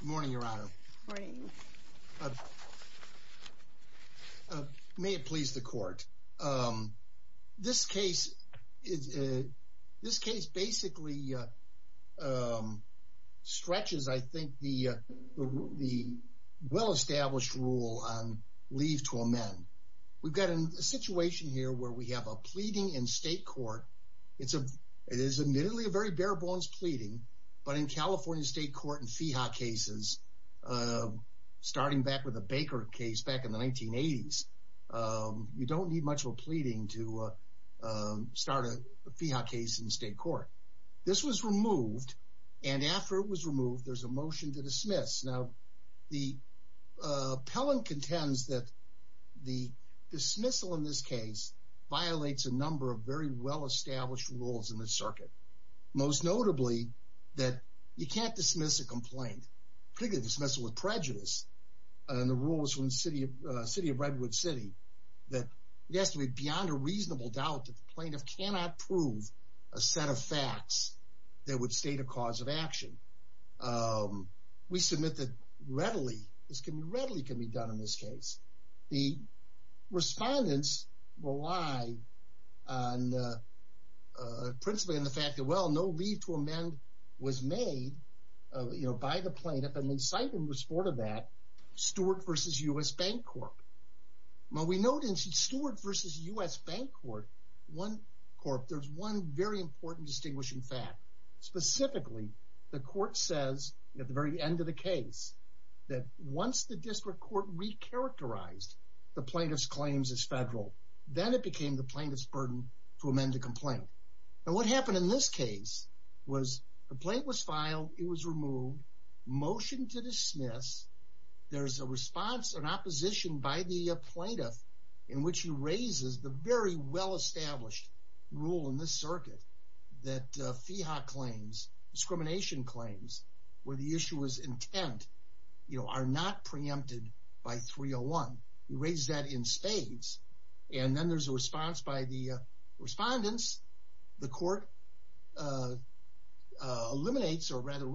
Good morning, Your Honor. Good morning. May it please the court. This case is, this case basically stretches, I think, the well-established rule on leave to amend. We've got a situation here where we have a pleading in state court. It's a, it is state court in FIHA cases, starting back with the Baker case back in the 1980s. You don't need much of a pleading to start a FIHA case in state court. This was removed and after it was removed there's a motion to dismiss. Now the appellant contends that the dismissal in this case violates a number of very well dismissed a complaint, particularly dismissal with prejudice and the rules from the city of Redwood City, that it has to be beyond a reasonable doubt that the plaintiff cannot prove a set of facts that would state a cause of action. We submit that readily, this can readily can be done in this case. The respondents rely on principally on the fact that, well, no leave to amend was made, you know, by the plaintiff and they cite in the report of that Stewart v. U.S. Bank Corp. Well, we noted in Stewart v. U.S. Bank Corp., there's one very important distinguishing fact. Specifically, the court says at the very end of the case that once the district court re-characterized the plaintiff's claims as federal, then it became the plaintiff's burden to amend the complaint. Now what happened in this case was the plaintiff was filed, it was removed, motion to dismiss, there's a response, an opposition by the plaintiff in which he raises the very well-established rule in this circuit that FIHA claims, discrimination claims, where the issue was intent, you know, are not preempted by 301. He raised that in this case and then there's a response by the respondents. The court eliminates or rather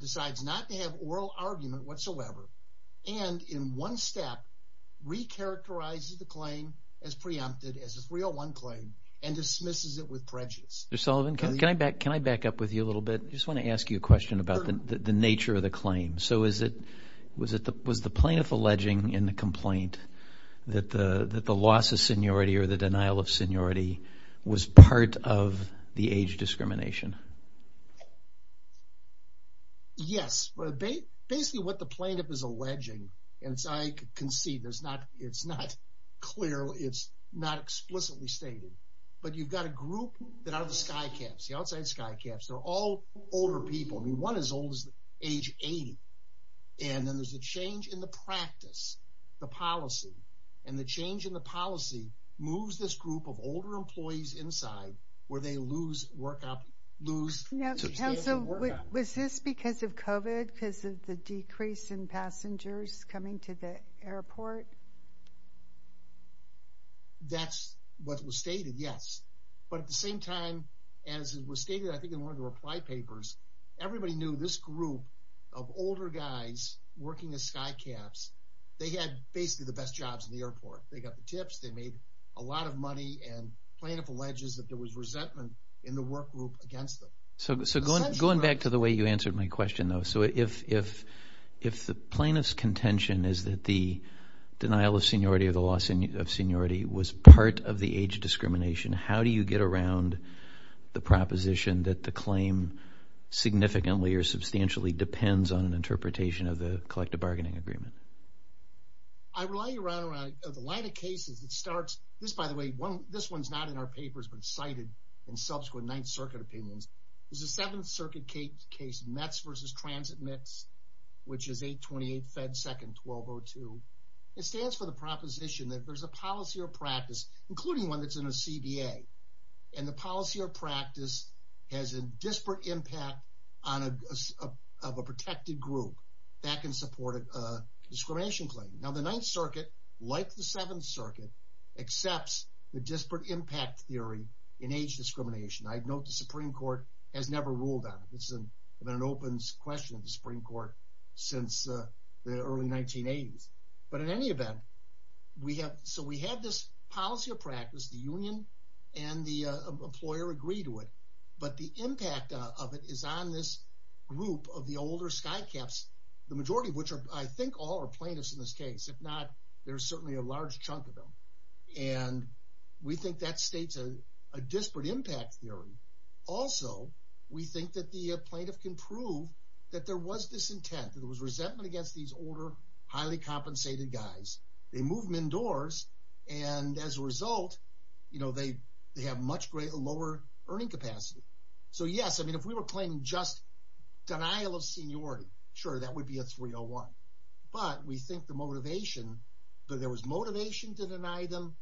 decides not to have oral argument whatsoever and in one step re-characterizes the claim as preempted as a 301 claim and dismisses it with prejudice. Mr. Sullivan, can I back up with you a little bit? I just want to ask you a question about the nature of the claim. So was the loss of seniority or the denial of seniority was part of the age discrimination? Yes, but basically what the plaintiff is alleging, and so I concede it's not clear, it's not explicitly stated, but you've got a group that out of the skycaps, the outside skycaps, they're all older people, I mean one as old as age 80, and then there's a change in the practice, the policy, and the change in the policy moves this group of older employees inside where they lose work, lose... Was this because of COVID, because of the decrease in passengers coming to the airport? That's what was stated, yes, but at the same time as it was stated I think in one of the reply papers, everybody knew this group of older guys working as skycaps, they had basically the best jobs in the airport. They got the tips, they made a lot of money, and plaintiff alleges that there was resentment in the work group against them. So going back to the way you answered my question though, so if the plaintiff's contention is that the denial of seniority or the loss of seniority was part of the age discrimination, how do you get around the proposition that the claim significantly or substantially depends on an interpretation of the collective bargaining agreement? I rely around the line of cases that starts, this by the way, this one's not in our papers but cited in subsequent Ninth Circuit opinions. There's a Seventh Circuit case, METS versus Transit METS, which is 828 Fed 2nd 1202. It stands for the proposition that there's a policy or practice, including one that's in a CBA, and the policy or practice has a disparate impact of a protected group that can support a discrimination claim. Now the Ninth Circuit, like the Seventh Circuit, accepts the disparate impact theory in age discrimination. I'd note the Supreme Court has never ruled on it. It's been an open question in the Supreme Court since the early 1980s. But in any event, so we had this policy or practice, the union and the is on this group of the older skycaps, the majority of which are, I think, all are plaintiffs in this case. If not, there's certainly a large chunk of them, and we think that states a disparate impact theory. Also, we think that the plaintiff can prove that there was disintent. There was resentment against these older, highly compensated guys. They moved them indoors, and as a result, you know, yes, I mean, if we were claiming just denial of seniority, sure, that would be a 301. But we think the motivation, that there was motivation to deny them,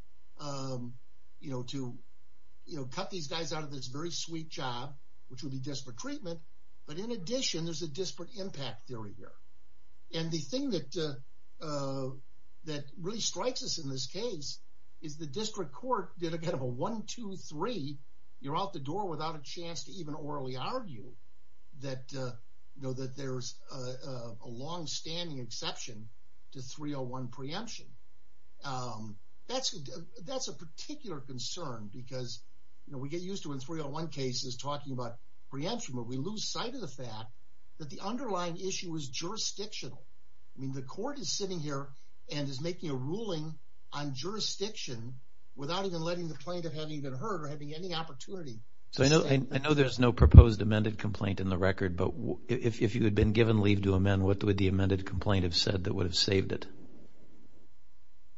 you know, to, you know, cut these guys out of this very sweet job, which would be disparate treatment. But in addition, there's a disparate impact theory here. And the thing that, that really strikes us in this case, is the district court did a kind of a one, two, three, you're out the door without a chance to even orally argue that, you know, that there's a long-standing exception to 301 preemption. That's, that's a particular concern, because, you know, we get used to in 301 cases talking about preemption, but we lose sight of the fact that the underlying issue is jurisdictional. I mean, the court is sitting here and is not even letting the plaintiff have even heard, or having any opportunity to say that. I know there's no proposed amended complaint in the record, but if you had been given leave to amend, what would the amended complaint have said that would have saved it?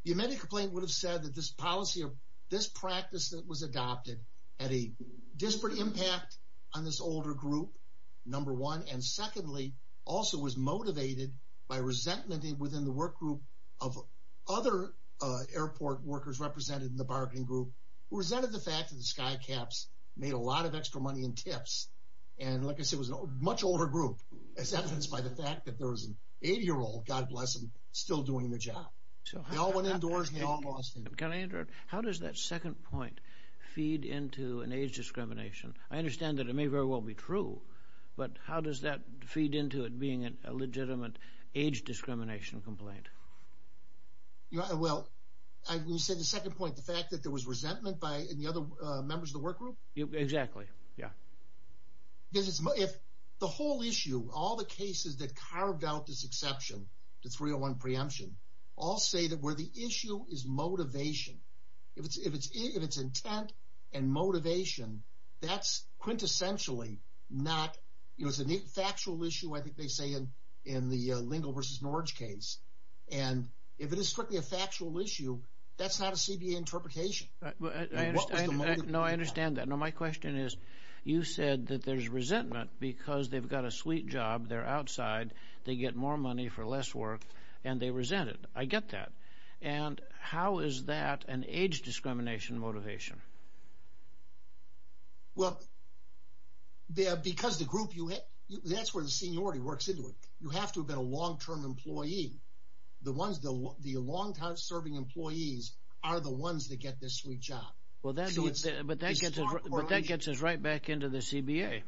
The amended complaint would have said that this policy, or this practice that was adopted, had a disparate impact on this older group, number one. And secondly, also was motivated by resentment within the work represented in the bargaining group, who resented the fact that the skycaps made a lot of extra money in tips, and like I said, was a much older group, as evidenced by the fact that there was an 80 year old, God bless him, still doing the job. They all went indoors, and they all lost. Can I interrupt? How does that second point feed into an age discrimination? I understand that it may very well be true, but how does that feed into it being a legitimate age discrimination complaint? Well, you said the second point, the fact that there was resentment by the other members of the work group? Exactly, yeah. If the whole issue, all the cases that carved out this exception, the 301 preemption, all say that where the issue is motivation. If it's intent and motivation, that's quintessentially not, you know, it's a factual issue, I think they say in the Engel versus Norwich case, and if it is strictly a factual issue, that's not a CBA interpretation. No, I understand that. No, my question is, you said that there's resentment because they've got a sweet job, they're outside, they get more money for less work, and they resented. I get that, and how is that an age discrimination motivation? Well, because the group, that's where the long-term employee, the ones, the longtime serving employees are the ones that get this sweet job. Well, that gets us right back into the CBA.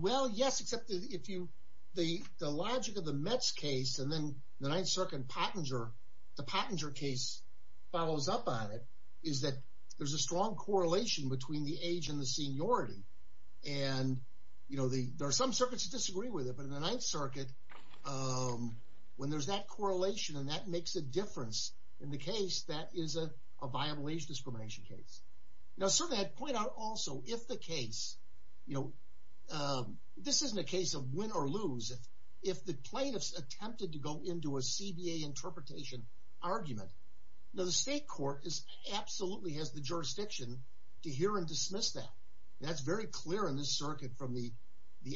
Well, yes, except if you, the logic of the Mets case, and then the Ninth Circuit Pattinger, the Pattinger case follows up on it, is that there's a strong correlation between the age and the seniority, and you know, there are some cases in the Ninth Circuit, when there's that correlation and that makes a difference in the case, that is a viable age discrimination case. Now, certainly I'd point out also, if the case, you know, this isn't a case of win or lose, if the plaintiffs attempted to go into a CBA interpretation argument, now the state court absolutely has the jurisdiction to hear and dismiss that. That's very clear in this circuit from the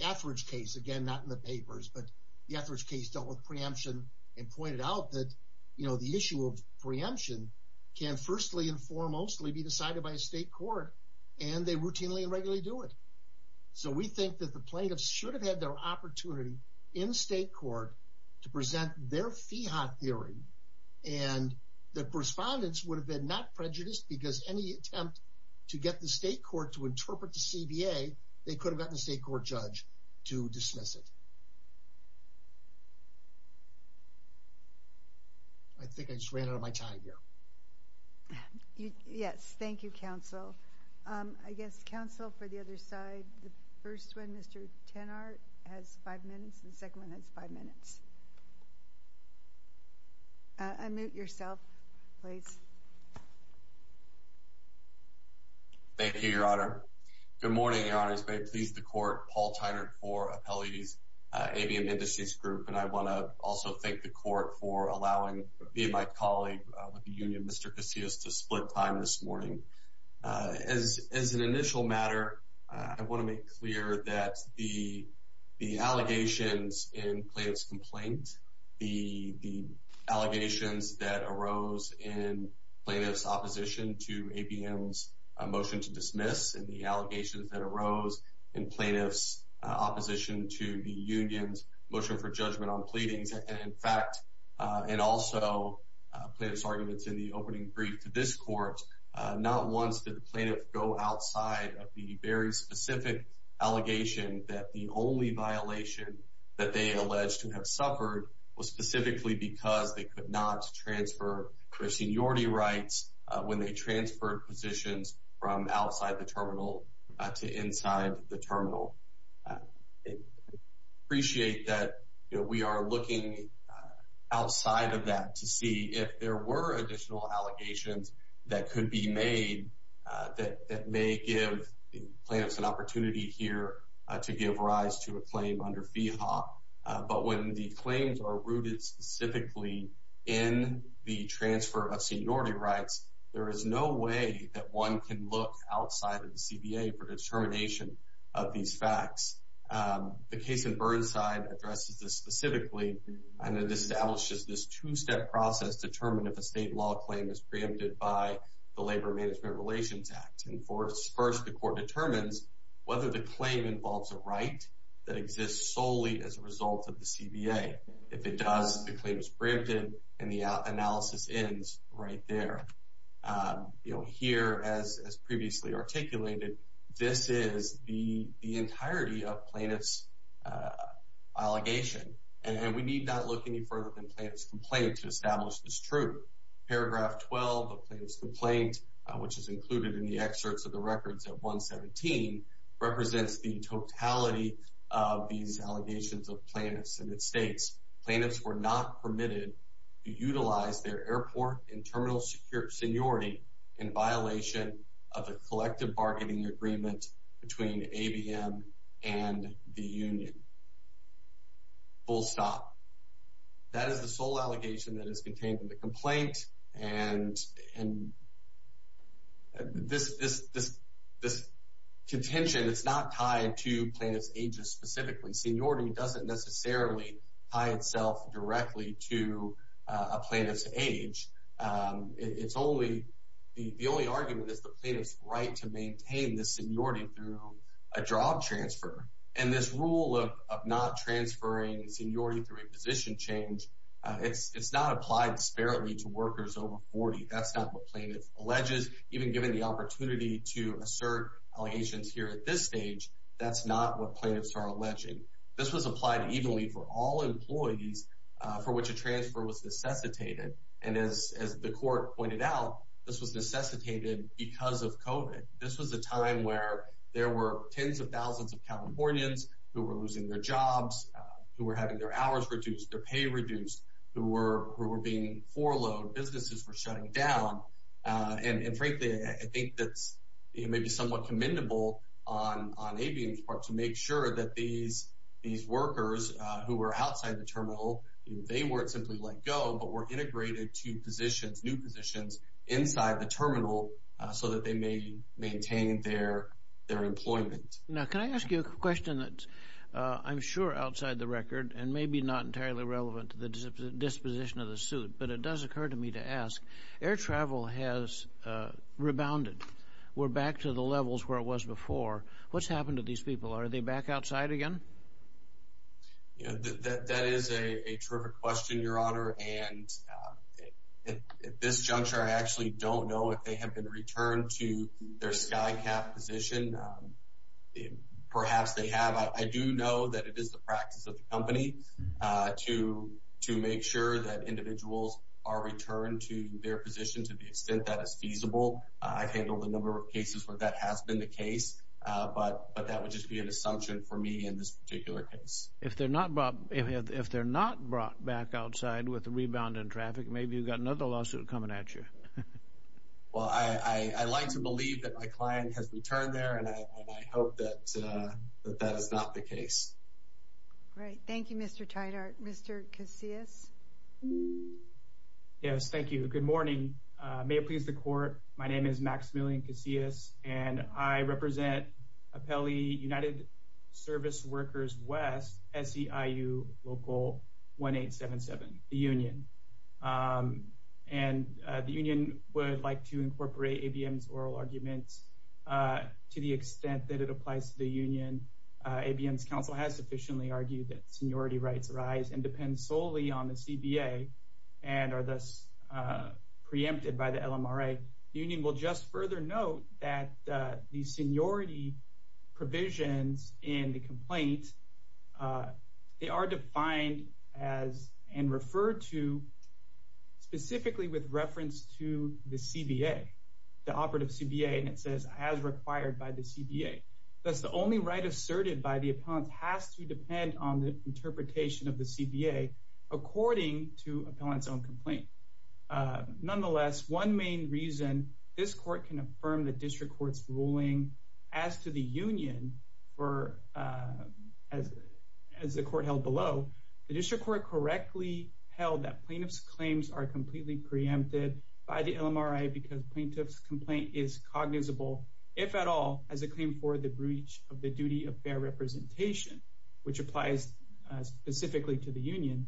Etheridge case, again, not in the papers, but the Etheridge case dealt with preemption and pointed out that, you know, the issue of preemption can firstly and foremostly be decided by a state court, and they routinely and regularly do it. So we think that the plaintiffs should have had their opportunity in state court to present their FIHOT theory, and the correspondents would have been not prejudiced because any attempt to get the state court to interpret the CBA, they could have gotten the state court judge to dismiss it. I think I just ran out of my time here. Yes, thank you, counsel. I guess, counsel, for the other side, the first one, Mr. Tannert, has five minutes, and the second one has five minutes. Unmute yourself, please. Thank you, Your Honor. Good morning, Your Honor. As may have pleased the court, Paul Tannert for Appellee's Avian Indices Group, and I want to also thank the court for allowing me and my colleague with the union, Mr. Casillas, to split time this morning. As an initial matter, I want to make clear that the allegations in plaintiff's opposition to ABM's motion to dismiss and the allegations that arose in plaintiff's opposition to the union's motion for judgment on pleadings, in fact, and also plaintiff's arguments in the opening brief to this court, not once did the plaintiff go outside of the very specific allegation that the only violation that they alleged to have suffered was specifically because they could not transfer their seniority rights when they transferred positions from outside the terminal to inside the terminal. I appreciate that we are looking outside of that to see if there were additional allegations that could be made that may give plaintiffs an opportunity here to give rise to a claim under FEHA, but when the claims are rooted specifically in the transfer of seniority rights, there is no way that one can look outside of the CBA for determination of these facts. The case in Burnside addresses this specifically, and it establishes this two-step process to determine if a state law claim is preempted by the Labor Management Relations Act. First, the court involves a right that exists solely as a result of the CBA. If it does, the claim is preempted, and the analysis ends right there. You'll hear, as previously articulated, this is the entirety of plaintiff's allegation, and we need not look any further than plaintiff's complaint to establish this truth. Paragraph 12 of plaintiff's complaint, which is included in the excerpts of the records at 117, represents the totality of these allegations of plaintiffs, and it states, plaintiffs were not permitted to utilize their airport and terminal seniority in violation of a collective bargaining agreement between ABM and the union. Full stop. That is the sole allegation that is contained in the complaint, and this contention is not tied to plaintiff's ages specifically. Seniority doesn't necessarily tie itself directly to a plaintiff's age. It's only, the only argument is the plaintiff's right to maintain this seniority through a job transfer, and this rule of not transferring seniority through a position change, it's not applied disparately to workers over 40. That's not what plaintiff alleges. Even given the opportunity to assert allegations here at this stage, that's not what plaintiffs are alleging. This was applied evenly for all employees for which a transfer was necessitated, and as the court pointed out, this was necessitated because of COVID. This was a time where there were tens of thousands of Californians who were losing their jobs, who were having their hours reduced, their pay reduced, who were being forlorn. Businesses were shutting down, and frankly, I think that's maybe somewhat commendable on ABM's part to make sure that these workers who were outside the terminal, they weren't simply let go, but were integrated to positions, new positions, inside the terminal so that they may maintain their employment. Now, can I ask you a question that I'm sure is outside the record and maybe not entirely relevant to the disposition of the suit, but it does occur to me to ask. Air travel has rebounded. We're back to the levels where it was before. What's happened to these people? Are they back outside again? That is a terrific question, Your Honor, and at this juncture I actually don't know if they have been returned to their SCICAP position. Perhaps they have. I do know that it is the practice of the company to make sure that individuals are returned to their position to the extent that is feasible. I've handled a number of cases where that has been the case, but that would just be an assumption for me in this particular case. If they're not brought back outside with the rebound in traffic, maybe you've got another lawsuit coming at you. Well, I like to believe that my client has returned there, and I hope that that is not the case. Right. Thank you, Mr. Tidehart. Mr. Casillas? Yes, thank you. Good morning. May it please the Court, my name is Maximilian Casillas, and I represent Apelli United Service Workers West, SEIU Local 1877, the union. And the union would like to incorporate ABM's oral argument to the extent that it applies to the union. ABM's counsel has sufficiently argued that seniority rights arise and depend solely on the CBA and are thus preempted by the LMRA. The union will just further note that the seniority provisions in the complaint, they are defined as and referred to specifically with reference to the CBA, the operative CBA, and it says as required by the CBA. Thus, the only right asserted by the appellant has to depend on the interpretation of the CBA according to appellant's own complaint. Nonetheless, one main reason this court can affirm the district court's ruling as to the union, as the court held below, the district court correctly held that plaintiff's claims are completely preempted by the LMRA because plaintiff's complaint is cognizable, if at all, as a claim for the breach of the duty of fair representation, which applies specifically to the union.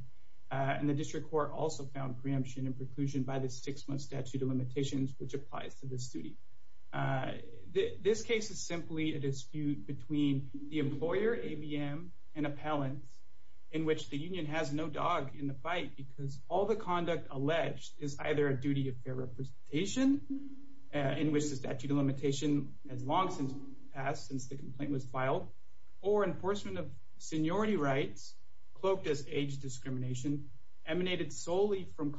And the district court also found preemption and preclusion by the six-month statute of compliance to this duty. This case is simply a dispute between the employer, ABM, and appellant, in which the union has no dog in the fight because all the conduct alleged is either a duty of fair representation, in which the statute of limitation has long since passed, since the complaint was filed, or enforcement of seniority rights cloaked as age discrimination, emanated solely from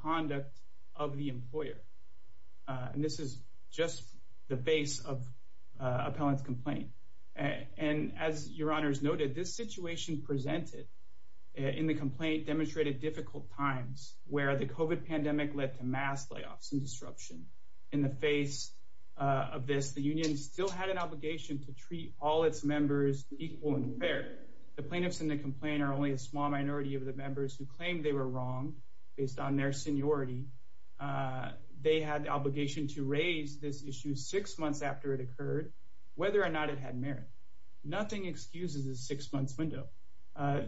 just the face of appellant's complaint. And as your honors noted, this situation presented in the complaint demonstrated difficult times, where the COVID pandemic led to mass layoffs and disruption. In the face of this, the union still had an obligation to treat all its members equal and fair. The plaintiffs in the complaint are only a small minority of the members who claimed they were wrong based on their seniority. They had the obligation to raise this issue six months after it occurred, whether or not it had merit. Nothing excuses the six-month window.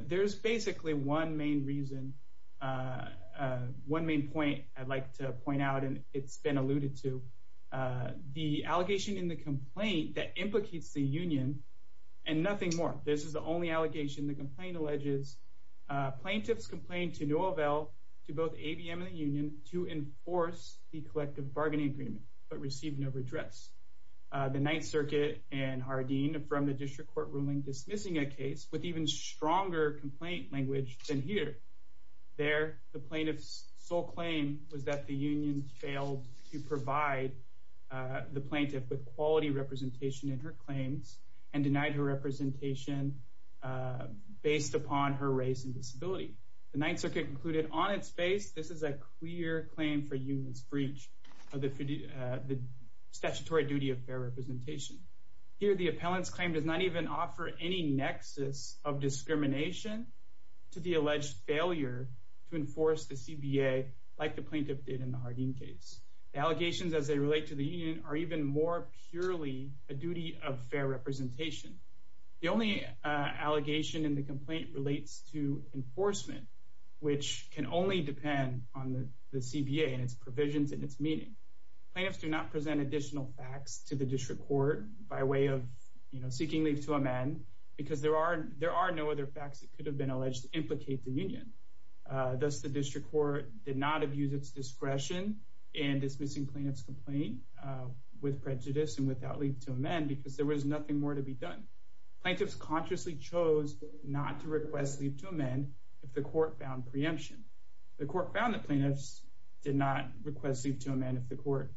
There's basically one main reason, one main point I'd like to point out, and it's been alluded to. The allegation in the complaint that implicates the union, and nothing more. This is the only allegation the complaint alleges. Plaintiffs complained to Nouvelle, to both ABM and the union, to enforce the collective bargaining agreement, but received no redress. The Ninth Circuit and Hardeen, from the district court ruling, dismissing a case with even stronger complaint language than here. There, the plaintiff's sole claim was that the union failed to provide the plaintiff with quality representation in her claims and denied her representation based upon her race and disability. The Ninth Circuit concluded on its face, this is a clear claim for union's breach of the statutory duty of fair representation. Here, the appellant's claim does not even offer any nexus of discrimination to the alleged failure to enforce the CBA like the plaintiff did in the Hardeen case. Allegations as they relate to the union are even more purely a duty of fair representation. The only allegation in the complaint relates to enforcement, which can only depend on the CBA and its provisions and its meaning. Plaintiffs do not present additional facts to the district court by way of, you know, seeking leave to amend because there are no other facts that could have been alleged to implicate the union. Thus, the district court did not abuse its discretion in dismissing plaintiff's complaint with prejudice and without leave to amend because there was nothing more to be done. Plaintiffs consciously chose not to request leave to amend if the court found preemption. The court found that plaintiffs did not request leave to amend if the court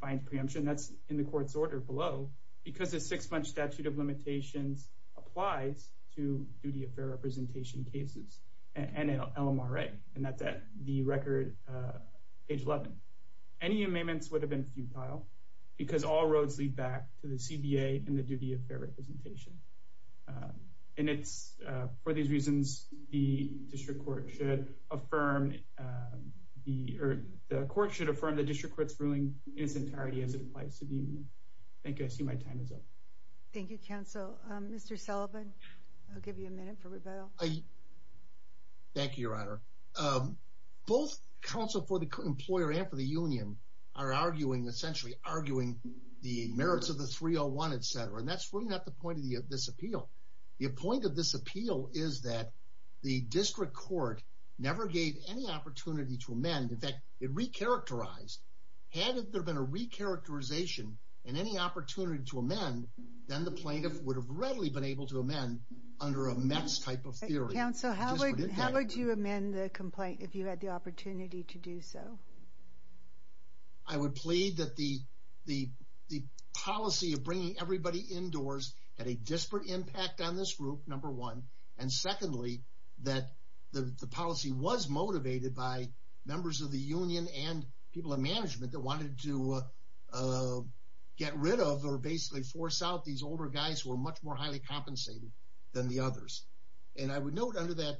finds preemption. That's in the court's order below because the six-month statute of limitations applies to duty of fair representation cases and LMRA, and that's at the record page 11. Any amendments would have been futile because all roads lead back to the CBA and the duty of fair representation. And it's for these reasons, the district court should affirm the court should affirm the district court's ruling in its entirety as it applies to the union. Thank you. I see my time is up. Thank you, counsel. Mr. Sullivan, I'll give you a minute for rebuttal. I thank you, your honor. Both counsel for the employer and for the union are arguing, essentially arguing the merits of the 301, etc. And that's really not the point of this appeal. The point of this appeal is that the district court never gave any opportunity to amend. In fact, it recharacterized. Had there been a recharacterization and any opportunity to amend, then the plaintiff would have readily been able to amend under a METS type of theory. Counsel, how would you amend the complaint if you had the opportunity to do so? I would plead that the policy of bringing everybody indoors had a disparate impact on this group, number one. And secondly, that the policy was motivated by members of the union and people in management that wanted to get guys were much more highly compensated than the others. And I would note under that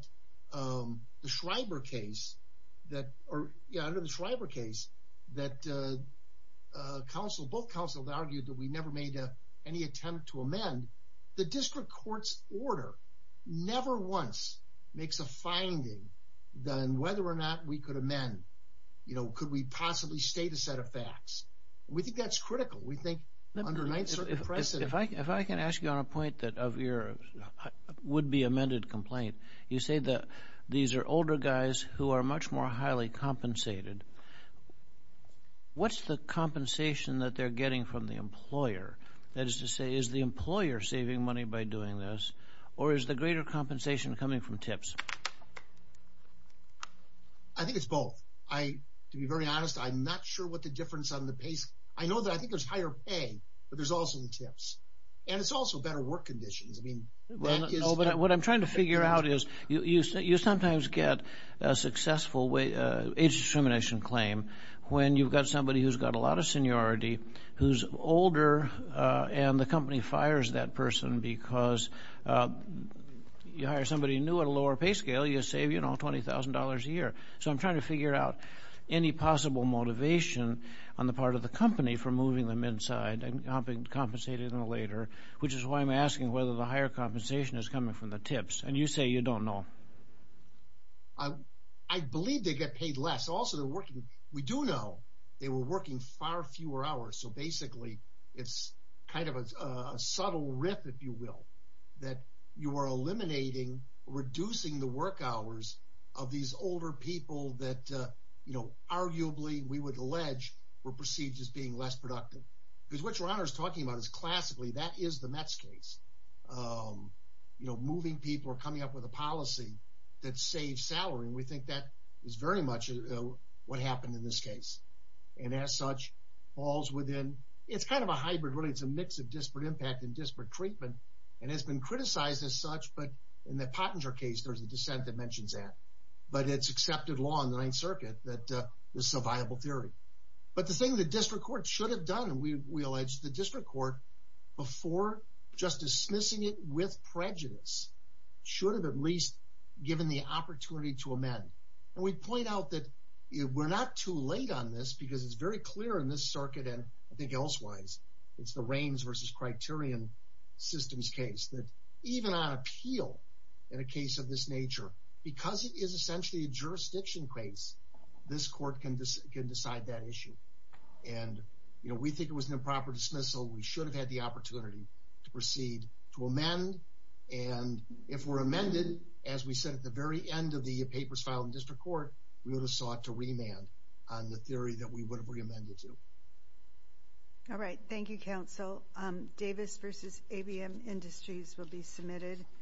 the Schreiber case that are under the Schreiber case that counsel both counseled argued that we never made any attempt to amend. The district court's order never once makes a finding than whether or not we could amend. You know, could we possibly state a set of facts? We think that's critical. We think under a nice precedent, if I if I can ask you on a point that of your would be amended complaint, you say that these are older guys who are much more highly compensated. What's the compensation that they're getting from the employer? That is to say, is the employer saving money by doing this? Or is the greater compensation coming from tips? I think it's both. I, to be very honest, I'm not sure what the difference on the I know that I think there's higher pay, but there's also the tips. And it's also better work conditions. I mean, what I'm trying to figure out is you say you sometimes get a successful way age discrimination claim when you've got somebody who's got a lot of seniority, who's older, and the company fires that person because you hire somebody new at a lower pay scale, you save, you know, $20,000 a year. So I'm trying to figure out any possible motivation on the part of the company for moving them inside and helping compensated in the later, which is why I'm asking whether the higher compensation is coming from the tips and you say you don't know. I, I believe they get paid less. Also, they're working. We do know they were working far fewer hours. So basically, it's kind of a subtle rip, if you will, that you are eliminating, reducing the work hours of these older people that, you know, arguably, we would allege, were perceived as being less productive. Because what Ron is talking about is classically, that is the Mets case. You know, moving people are coming up with a policy that saves salary. And we think that is very much what happened in this case. And as such, falls within, it's kind of a hybrid, really, it's a mix of disparate impact and disparate treatment, and has been criticized as such. But in the Pottinger case, there's a dissent that mentions that. But it's accepted law in the Ninth Circuit that is a viable theory. But the thing the district court should have done, we allege the district court, before just dismissing it with prejudice, should have at least given the opportunity to amend. And we point out that we're not too late on this, because it's very clear in this circuit. And I think elsewise, it's the Criterion Systems case, that even on appeal, in a case of this nature, because it is essentially a jurisdiction case, this court can decide that issue. And, you know, we think it was an improper dismissal, we should have had the opportunity to proceed to amend. And if we're amended, as we said, at the very end of the papers filed in district court, we would have sought to remand on the theory that we would have re-amended to. All right. Thank you, Counsel. Davis v. ABM Industries will be submitted.